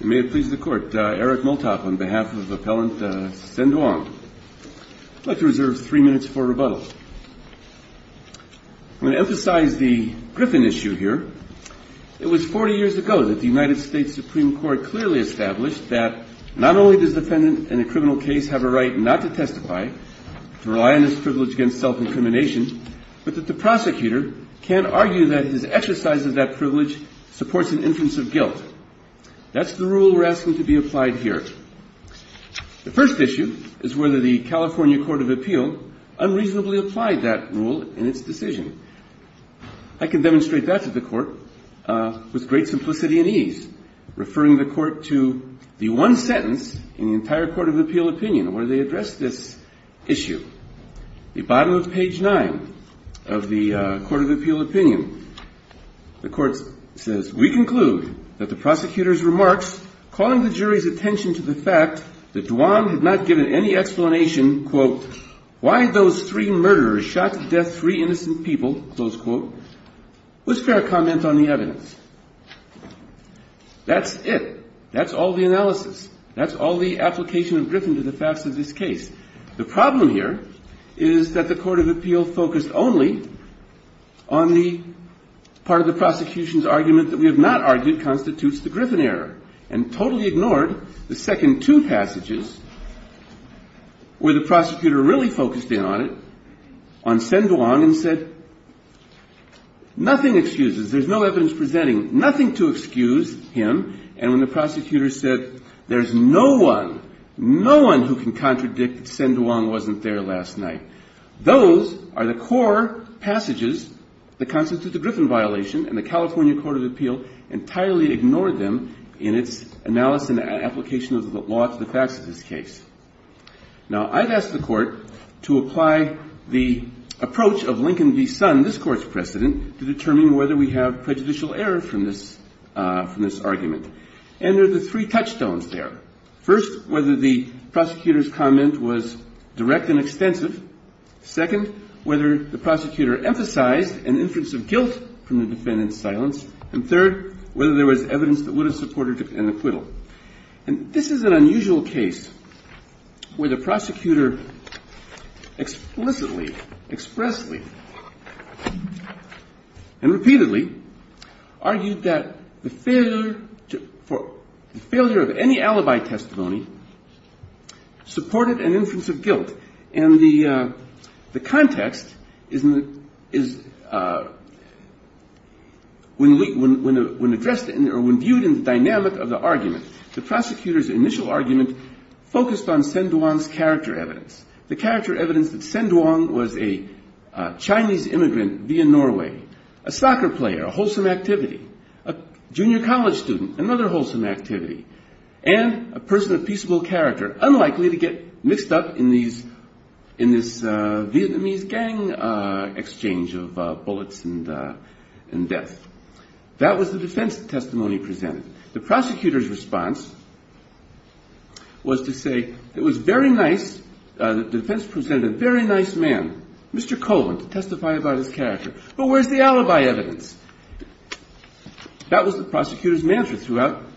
May it please the Court, Eric Multop on behalf of Appellant Sen Duong. I'd like to reserve three minutes for rebuttal. I'm going to emphasize the Griffin issue here. It was 40 years ago that the United States Supreme Court clearly established that not only does the defendant in a criminal case have a right not to testify, to rely on his privilege against self-incrimination, but that the prosecutor can't argue that his exercise of that right is a violation of the law. That's the rule we're asking to be applied here. The first issue is whether the California Court of Appeal unreasonably applied that rule in its decision. I can demonstrate that to the Court with great simplicity and ease, referring the Court to the one sentence in the entire Court of Appeal opinion where they address this issue. The bottom of page 9 of the Court of Appeal opinion, the Court says, we conclude that the prosecutor's remarks calling the jury's attention to the fact that Duong had not given any explanation, quote, why those three murderers shot to death three innocent people, close quote, was fair comment on the evidence. That's it. That's all the analysis. That's all the application of Griffin to the facts of this case. The problem here is that the Court of Appeal focused only on the part of the prosecution's evidence that we have not argued constitutes the Griffin error and totally ignored the second two passages where the prosecutor really focused in on it, on Sen Duong and said nothing excuses, there's no evidence presenting nothing to excuse him, and when the prosecutor said there's no one, no excuse, there's no evidence. Those are the core passages that constitute the Griffin violation and the California Court of Appeal entirely ignored them in its analysis and application of the law to the facts of this case. Now, I've asked the Court to apply the approach of Lincoln v. Sun, this Court's precedent, to determine whether we have prejudicial error from this argument. And there are the three touchstones there. First, whether the prosecutor's comment was direct and extensive. Second, whether the prosecutor emphasized an inference of guilt from the defendant's silence. And third, whether there was evidence that would have supported an acquittal. And this is an unusual case where the prosecutor explicitly, expressly, and repeatedly argued that the failure of any alibi testimony supported an acquittal. Now, this context is when viewed in the dynamic of the argument, the prosecutor's initial argument focused on Sen Duong's character evidence, the character evidence that Sen Duong was a Chinese immigrant via Norway, a soccer player, a wholesome activity, a junior college student, another wholesome activity, and a person of peaceable character, unlikely to get mixed up in this Vietnamese gang exchange of bullets and death. That was the defense testimony presented. The prosecutor's response was to say it was very nice, the defense presented a very nice man, Mr. Colvin, to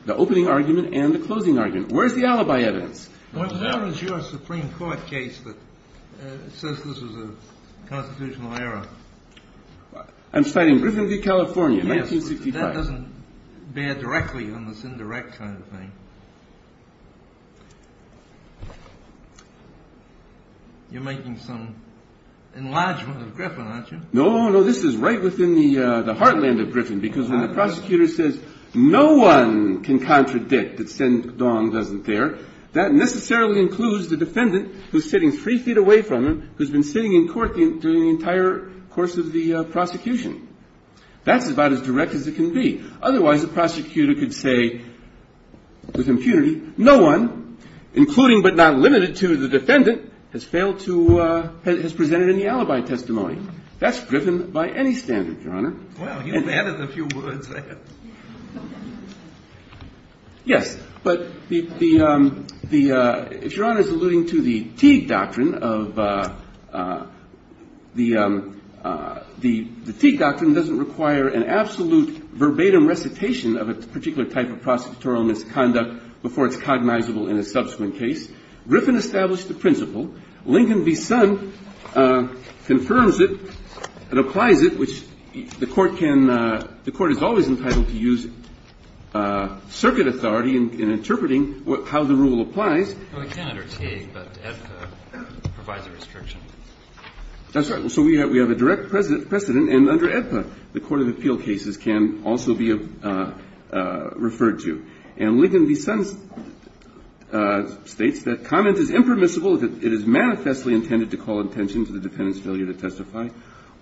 the opening argument and the closing argument. Where's the alibi evidence? Well, there is your Supreme Court case that says this was a constitutional error. I'm citing Griffin v. California, 1965. Yes, but that doesn't bear directly on this indirect kind of thing. You're making some enlargement of Griffin, aren't you? No, no, this is right within the heartland of Griffin, because when the prosecutor says no one can contradict that Sen Duong wasn't there, that necessarily includes the defendant who's sitting three feet away from him, who's been sitting in court during the entire course of the prosecution. That's about as direct as it can be. Otherwise, the prosecutor could say with impunity, no one, including but not limited to the defendant, has presented any alibi testimony. That's Griffin by any standard, Your Honor. Wow, you've added a few words there. Yes, but if Your Honor is alluding to the Teague Doctrine, the Teague Doctrine doesn't require an absolute verbatim recitation of a particular type of prosecutorial misconduct before it's cognizable in a subsequent case. Griffin established the principle. Lincoln v. Sun confirms it and applies it, which the Court can – the Court is always entitled to use circuit authority in interpreting how the rule applies. Well, it can under Teague, but AEDPA provides a restriction. That's right. So we have a direct precedent, and under AEDPA, the court of appeal cases can also be referred to. And Lincoln v. Sun states that comment is impermissible if it is manifestly intended to call attention to the defendant's failure to testify,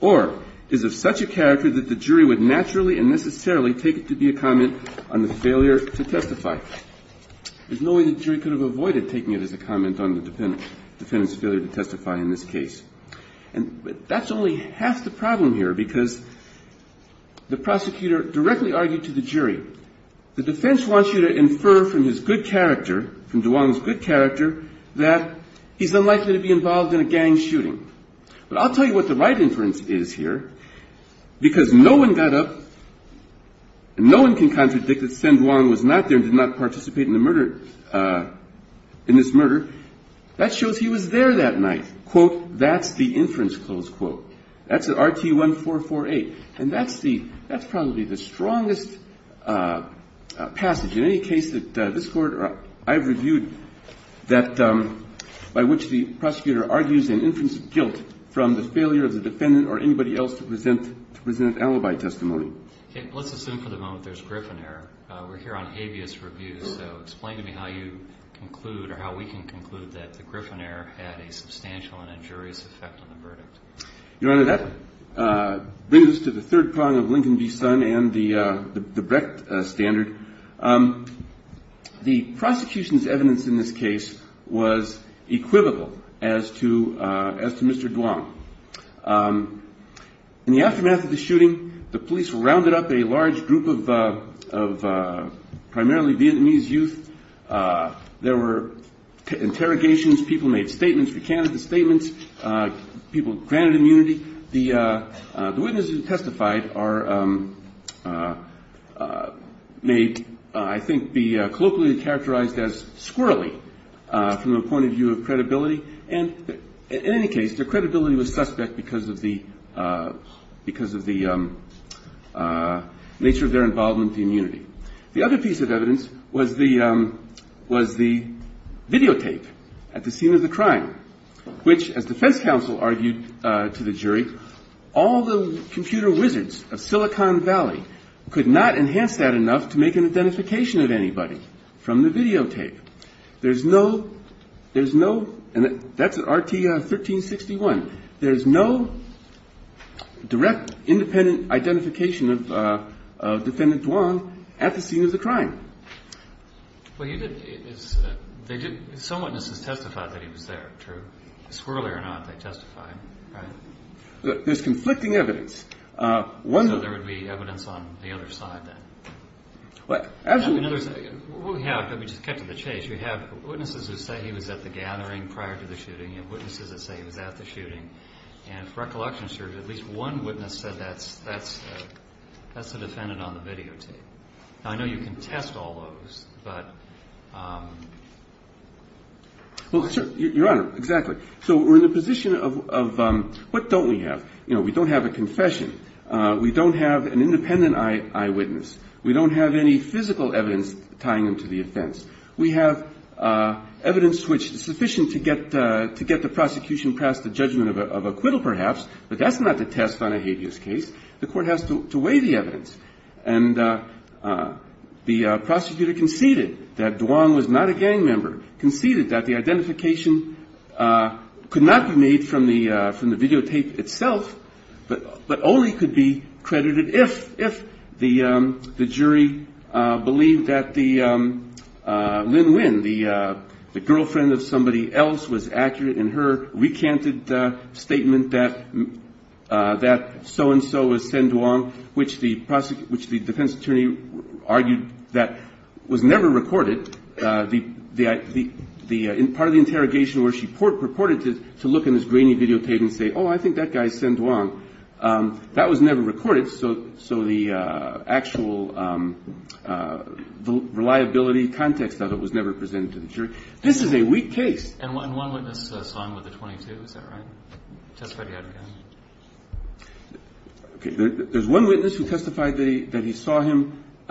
or is of such a character that the jury would naturally and necessarily take it to be a comment on the failure to testify. There's no way the jury could have avoided taking it as a comment on the defendant's failure to testify in this case. And that's only half the problem here, because the prosecutor directly argued to the jury, the defense wants you to infer from his good character, from Duong's good character, that he's unlikely to be involved in a gang shooting. But I'll tell you what the right inference is here, because no one got up – no one can contradict that Sen Duong was not there and did not participate in the murder – in this murder. That shows he was there that night. Quote, that's the inference, close quote. That's RT-1448. And that's the – that's probably the strongest passage in any case that this Court – or I've reviewed that – by which the prosecutor argues an inference of guilt from the failure of the defendant or anybody else to present – to present alibi testimony. Let's assume for the moment there's Gryphon error. We're here on habeas review, so explain to me how you conclude – or how we can conclude that the Gryphon error had a substantial and injurious effect on the verdict. Your Honor, that brings us to the third prong of Lincoln v. Sun and the Brecht standard. The prosecution's evidence in this case was equivocal as to – as to Mr. Duong. In the aftermath of the shooting, the police rounded up a large group of primarily Vietnamese youth. There were interrogations. People made statements, recanted statements. People granted immunity. The witnesses who testified are – may, I think, be colloquially characterized as squirrelly from the point of view of credibility. And in any case, their credibility was suspect because of the – because of the nature of their involvement in unity. The other piece of evidence was the – was the videotape at the scene of the crime, which, as defense counsel argued to the jury, all the computer wizards of Silicon Valley could not enhance that enough to make an identification of anybody from the videotape. There's no – there's no – and that's at RT 1361. There's no direct, independent identification of defendant Duong at the scene of the crime. Well, you did – they did – some witnesses testified that he was there, true. Squirrelly or not, they testified, right? There's conflicting evidence. So there would be evidence on the other side then? Absolutely. We have – let me just cut to the chase. You have witnesses who say he was at the gathering prior to the shooting and witnesses that say he was at the shooting. And for recollection, sir, at least one witness said that's the defendant on the videotape. Now, I know you can test all those, but – Well, sir – Your Honor, exactly. So we're in the position of – what don't we have? You know, we don't have a confession. We don't have an independent eyewitness. We don't have any physical evidence tying them to the offense. We have evidence which is sufficient to get the prosecution past the judgment of acquittal perhaps, but that's not to test on a habeas case. The court has to weigh the evidence. And the prosecutor conceded that Duong was not a gang member, conceded that the identification could not be made from the videotape itself, but only could be credited if the jury believed that the Linh Nguyen, the girlfriend of somebody else, was accurate in her recanted statement that so-and-so was Sen Duong, which the defense attorney argued that was never recorded. Part of the interrogation where she purported to look in this grainy videotape and say, oh, I think that guy is Sen Duong, that was never recorded. So the actual reliability context of it was never presented to the jury. This is a weak case. And one witness saw him with a .22, is that right? Testified he had a gun? Okay. There's one witness who testified that he saw him –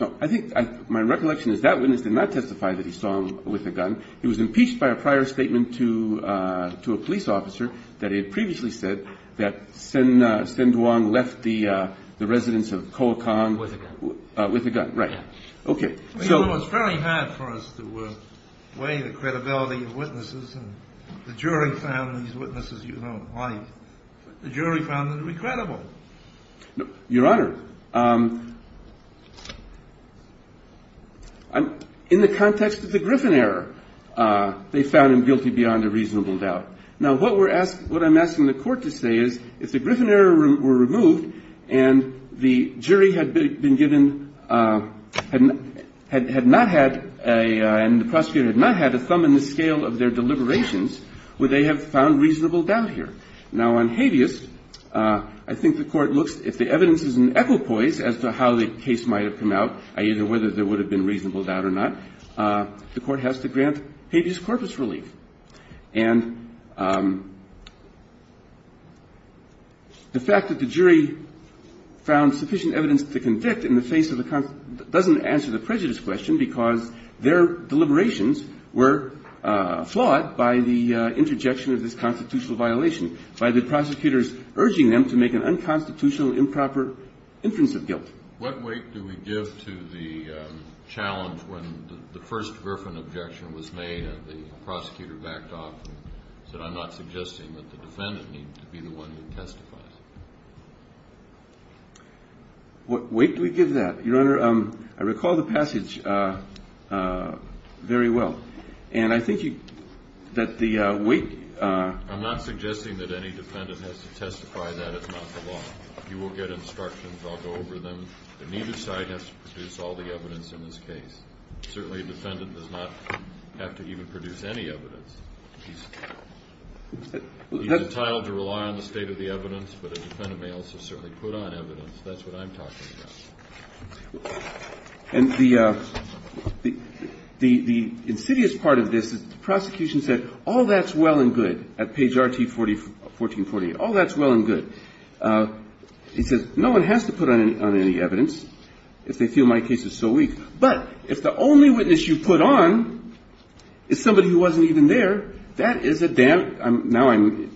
no, I think my recollection is that witness did not testify that he saw him with a gun. He was impeached by a prior statement to a police officer that he had previously said that Sen Duong left the residence of Koh Akon with a gun. With a gun. Right. Okay. It's fairly hard for us to weigh the credibility of witnesses, and the jury found these witnesses you don't like. The jury found them incredible. Your Honor, in the context of the Griffin error, they found him guilty beyond a reasonable doubt. Now, what we're asking – what I'm asking the Court to say is, if the Griffin error were removed and the jury had been given – had not had a – and the prosecutor had not had a thumb in the scale of their deliberations, would they have found reasonable doubt here? Now, on habeas, I think the Court looks – if the evidence is an equipoise as to how the case might have come out, i.e., whether there would have been reasonable doubt or not, the Court has to grant habeas corpus relief. And the fact that the jury found sufficient evidence to convict in the face of the – doesn't answer the prejudice question, because their deliberations were flawed by the interjection of this constitutional violation, by the prosecutors urging them to make an unconstitutional improper inference of guilt. What weight do we give to the challenge when the first Griffin objection was made and the prosecutor backed off and said, I'm not suggesting that the defendant needs to be the one who testifies? What weight do we give that? Your Honor, I recall the passage very well. And I think that the weight – I'm not suggesting that any defendant has to testify that it's not the law. You will get instructions. I'll go over them. And neither side has to produce all the evidence in this case. Certainly, a defendant does not have to even produce any evidence. He's entitled to rely on the state of the evidence, but a defendant may also certainly put on evidence. That's what I'm talking about. And the insidious part of this is the prosecution said, all that's well and good, at page RT-1448. All that's well and good. He says, no one has to put on any evidence if they feel my case is so weak. But if the only witness you put on is somebody who wasn't even there, that is a – now I'm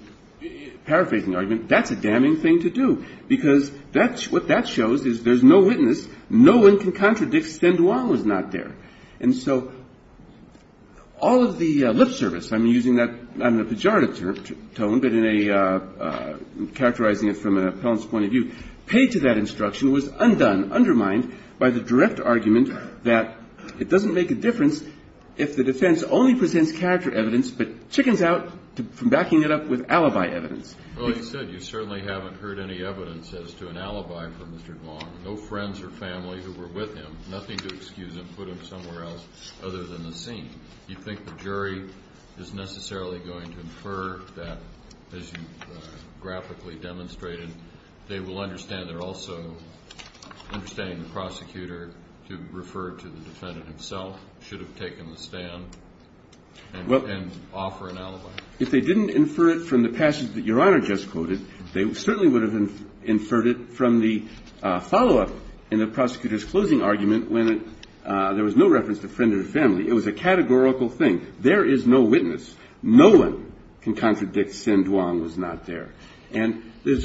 paraphrasing the argument. That's a damning thing to do, because that's – what that shows is there's no witness. No one can contradict Sandoval was not there. And so all of the lip service, I'm using that not in a pejorative tone, but in a – characterizing it from an appellant's point of view, paid to that instruction was undone, undermined by the direct argument that it doesn't make a difference if the defense only presents character evidence but chickens out from backing it up with alibi evidence. Well, you said you certainly haven't heard any evidence as to an alibi for Mr. Duong. No friends or family who were with him. Nothing to excuse him, put him somewhere else other than the scene. Do you think the jury is necessarily going to infer that, as you graphically demonstrated, they will understand they're also understanding the prosecutor to refer to the defendant himself should have taken the stand and offer an alibi? If they didn't infer it from the passage that Your Honor just quoted, they certainly would have inferred it from the follow-up in the prosecutor's closing argument when there was no reference to friend or family. It was a categorical thing. There is no witness. No one can contradict Sin Duong was not there. And that's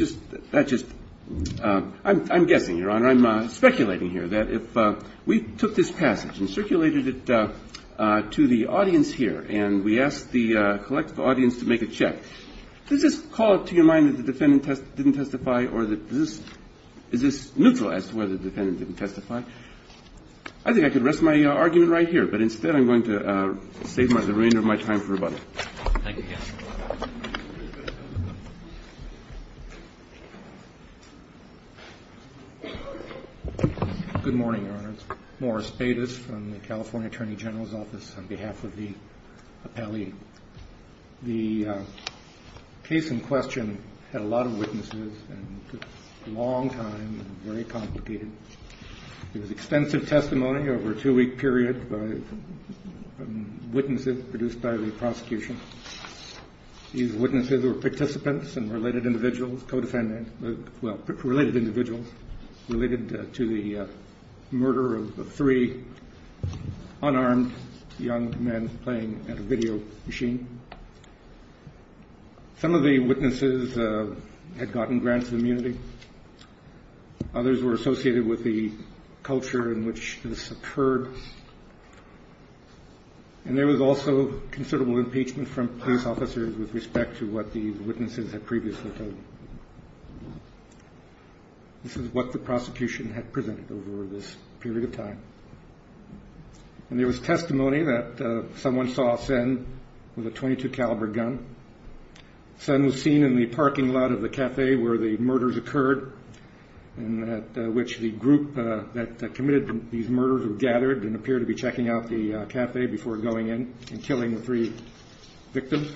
just – I'm guessing, Your Honor. I'm speculating here that if we took this passage and circulated it to the audience here and we asked the collective audience to make a check, does this call to your mind that the defendant didn't testify or is this neutral as to whether the defendant didn't testify? I think I could rest my argument right here, but instead I'm going to save the remainder of my time for about a minute. Thank you, counsel. Good morning, Your Honor. It's Morris Bates from the California Attorney General's Office on behalf of the appellee. The case in question had a lot of witnesses and took a long time and very complicated. There was extensive testimony over a two-week period by witnesses produced by the prosecution. These witnesses were participants and related individuals, co-defendants, well, related individuals related to the murder of three unarmed young men playing at a video machine. Some of the witnesses had gotten grants of immunity. Others were associated with the culture in which this occurred. And there was also considerable impeachment from police officers with respect to what the witnesses had previously told them. This is what the prosecution had presented over this period of time. And there was testimony that someone saw Sen with a .22 caliber gun. Sen was seen in the parking lot of the cafe where the murders occurred in which the group that committed these murders were gathered and appeared to be checking out the cafe before going in and killing the three victims.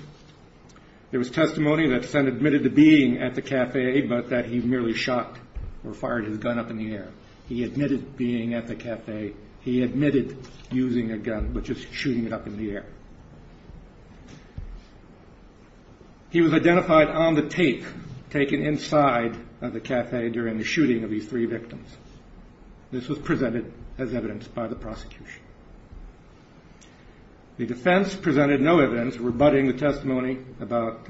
There was testimony that Sen admitted to being at the cafe, but that he merely shot or fired his gun up in the air. He admitted being at the cafe. He admitted using a gun, but just shooting it up in the air. He was identified on the tape taken inside of the cafe during the shooting of these three victims. This was presented as evidence by the prosecution. The defense presented no evidence rebutting the testimony about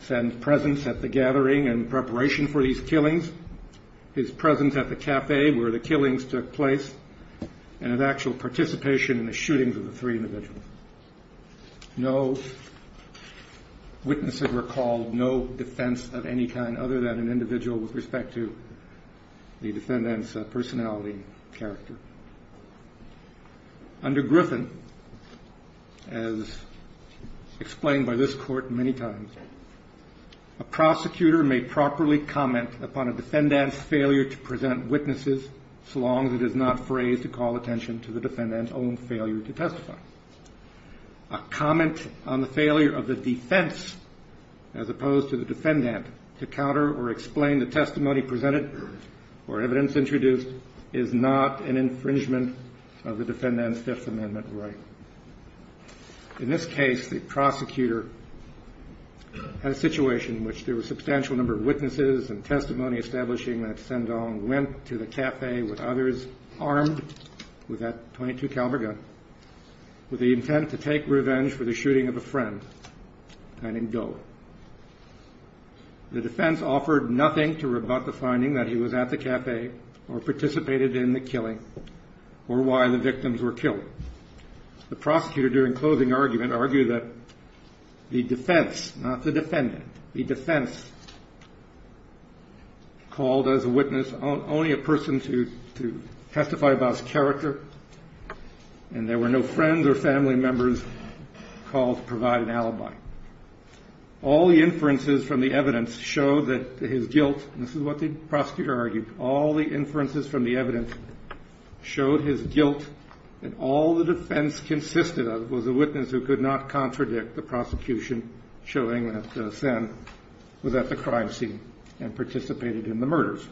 Sen's presence at the gathering in preparation for these killings. His presence at the cafe where the killings took place and of actual participation in the shootings of the three individuals. No witnesses were called, no defense of any kind other than an individual with respect to the defendant's personality and character. Under Griffin, as explained by this court many times, a prosecutor may properly comment upon a defendant's failure to present witnesses so long as it is not phrased to call attention to the defendant's own failure to testify. A comment on the failure of the defense as opposed to the defendant to counter or explain the testimony presented or evidence introduced is not an infringement of the defendant's Fifth Amendment right. In this case, the prosecutor had a situation in which there was a substantial number of witnesses and testimony establishing that Sen Dong went to the cafe with others armed with that .22 caliber gun with the intent to take revenge for the shooting of a friend named Do. The defense offered nothing to rebut the finding that he was at the cafe or participated in the killing or why the victims were killed. The prosecutor, during closing argument, argued that the defense, not the defendant, the defense called as a witness only a person to testify about his character and there were no friends or family members called to provide an alibi. All the inferences from the evidence show that his guilt, and this is what the prosecutor argued, all the inferences from the evidence showed his guilt and all the defense consisted of was a witness who could not contradict the prosecution showing that Sen was at the crime scene and participated in the murders.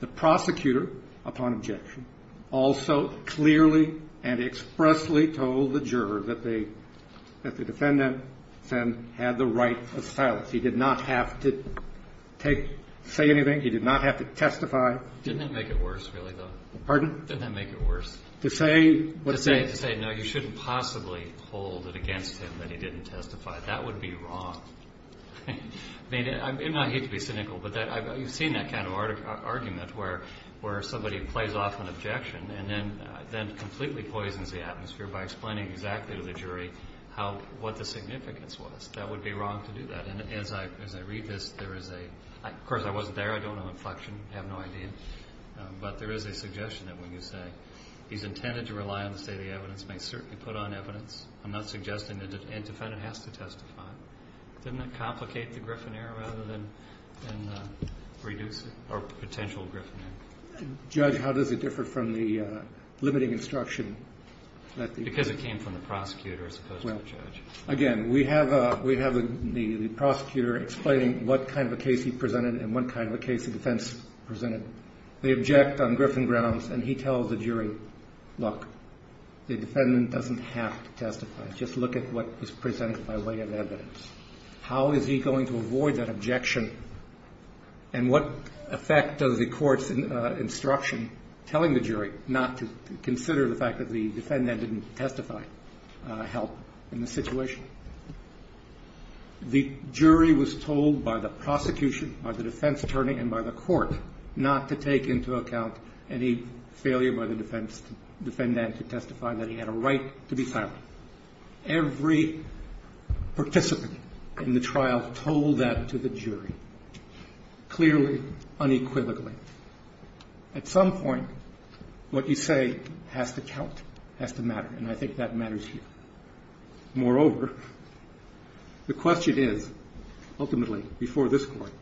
The prosecutor, upon objection, also clearly and expressly told the juror that the defendant, Sen, had the right of silence. He did not have to say anything. He did not have to testify. Didn't that make it worse, really, though? Pardon? Didn't that make it worse? To say what? To say, no, you shouldn't possibly hold it against him that he didn't testify. That would be wrong. I hate to be cynical, but you've seen that kind of argument where somebody plays off an objection and then completely poisons the atmosphere by explaining exactly to the jury what the significance was. That would be wrong to do that. And as I read this, there is a – of course, I wasn't there. I don't know inflection. I have no idea. But there is a suggestion that when you say he's intended to rely on the state of the evidence, he may certainly put on evidence. I'm not suggesting that the defendant has to testify. Didn't that complicate the griffon error rather than reduce it or potential griffon error? Judge, how does it differ from the limiting instruction that the – Because it came from the prosecutor as opposed to the judge. Again, we have the prosecutor explaining what kind of a case he presented and what kind of a case the defense presented. They object on griffon grounds, and he tells the jury, look, the defendant doesn't have to testify. Just look at what is presented by way of evidence. How is he going to avoid that objection, and what effect does the court's instruction telling the jury not to consider the fact that the defendant didn't testify help in the situation? The jury was told by the prosecution, by the defense attorney, and by the court not to take into account any failure by the defendant to testify that he had a right to be silent. Every participant in the trial told that to the jury, clearly, unequivocally. At some point, what you say has to count, has to matter, and I think that matters here. Moreover, the question is, ultimately, before this court,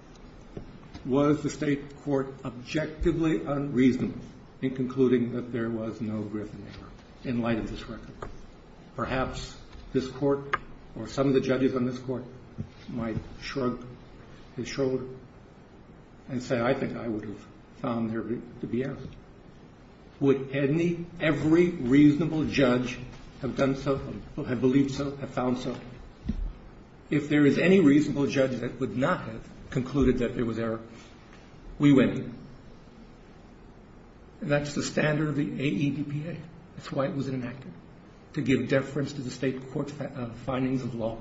was the state court objectively unreasonable in concluding that there was no griffon error in light of this record? Perhaps this court or some of the judges on this court might shrug his shoulder and say, I think I would have found there to be error. Would any, every reasonable judge have done so, have believed so, have found so? If there is any reasonable judge that would not have concluded that there was error, we win. That's the standard of the AEDPA. That's why it was enacted, to give deference to the state court's findings of law,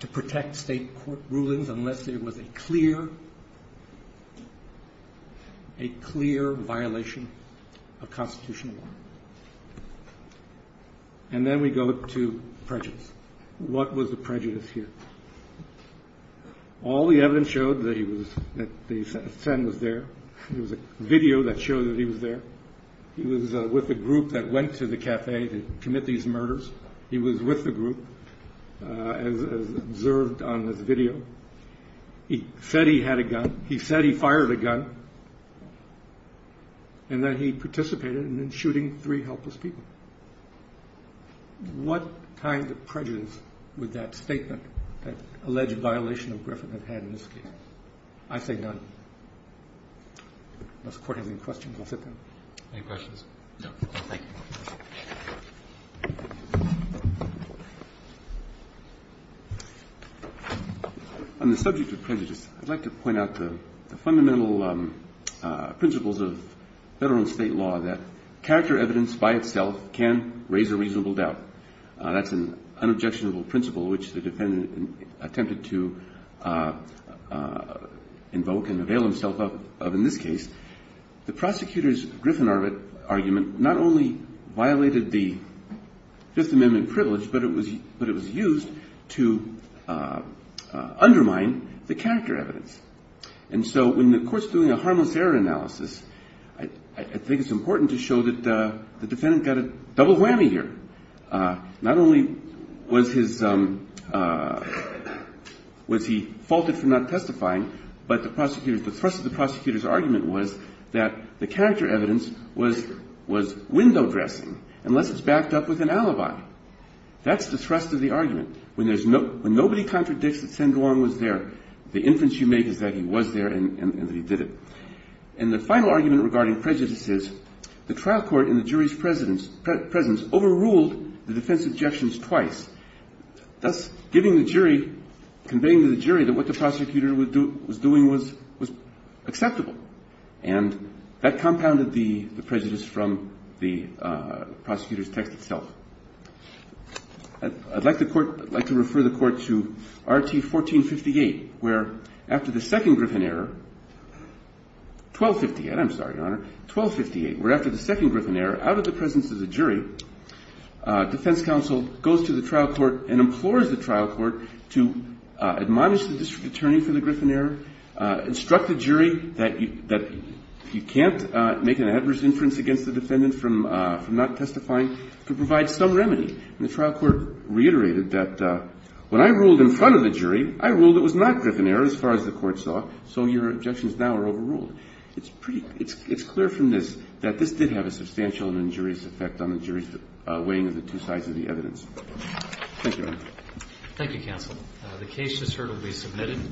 to protect state court rulings unless there was a clear, a clear violation of constitutional law. And then we go to prejudice. What was the prejudice here? All the evidence showed that he was, that the sin was there. There was a video that showed that he was there. He was with a group that went to the cafe to commit these murders. He was with the group, as observed on this video. He said he had a gun. He said he fired a gun. And that he participated in shooting three helpless people. What kind of prejudice would that statement, that alleged violation of Griffin have had in this case? I say none. Unless the court has any questions, I'll sit down. Any questions? No. Thank you. On the subject of prejudice, I'd like to point out the fundamental principles of Federal and State law that character evidence by itself can raise a reasonable doubt. That's an unobjectionable principle which the defendant attempted to invoke and avail himself of in this case. The prosecutor's Griffin argument not only violated the Fifth Amendment privilege, but it was used to undermine the character evidence. And so when the court's doing a harmless error analysis, I think it's important to show that the defendant got a double whammy here. Not only was his, was he faulted for not testifying, but the prosecutor, the thrust of the argument was that the character evidence was window dressing, unless it's backed up with an alibi. That's the thrust of the argument. When there's no, when nobody contradicts that Sen Guang was there, the inference you make is that he was there and that he did it. And the final argument regarding prejudice is the trial court in the jury's presence overruled the defense objections twice, thus giving the jury, conveying to the jury that what the prosecutor was doing was acceptable. And that compounded the prejudice from the prosecutor's text itself. I'd like the court, I'd like to refer the court to Rt. 1458, where after the second Griffin error, 1258, I'm sorry, Your Honor, 1258, where after the second Griffin error, out of the presence of the jury, defense counsel goes to the trial court and implores the trial court to admonish the district attorney for the Griffin error, instruct the jury that you can't make an adverse inference against the defendant from not testifying, to provide some remedy. And the trial court reiterated that when I ruled in front of the jury, I ruled it was not Griffin error as far as the court saw, so your objections now are overruled. It's clear from this that this did have a substantial and injurious effect on the jury's weighing of the two sides of the evidence. Thank you, Your Honor. Thank you, counsel. The case just heard will be submitted.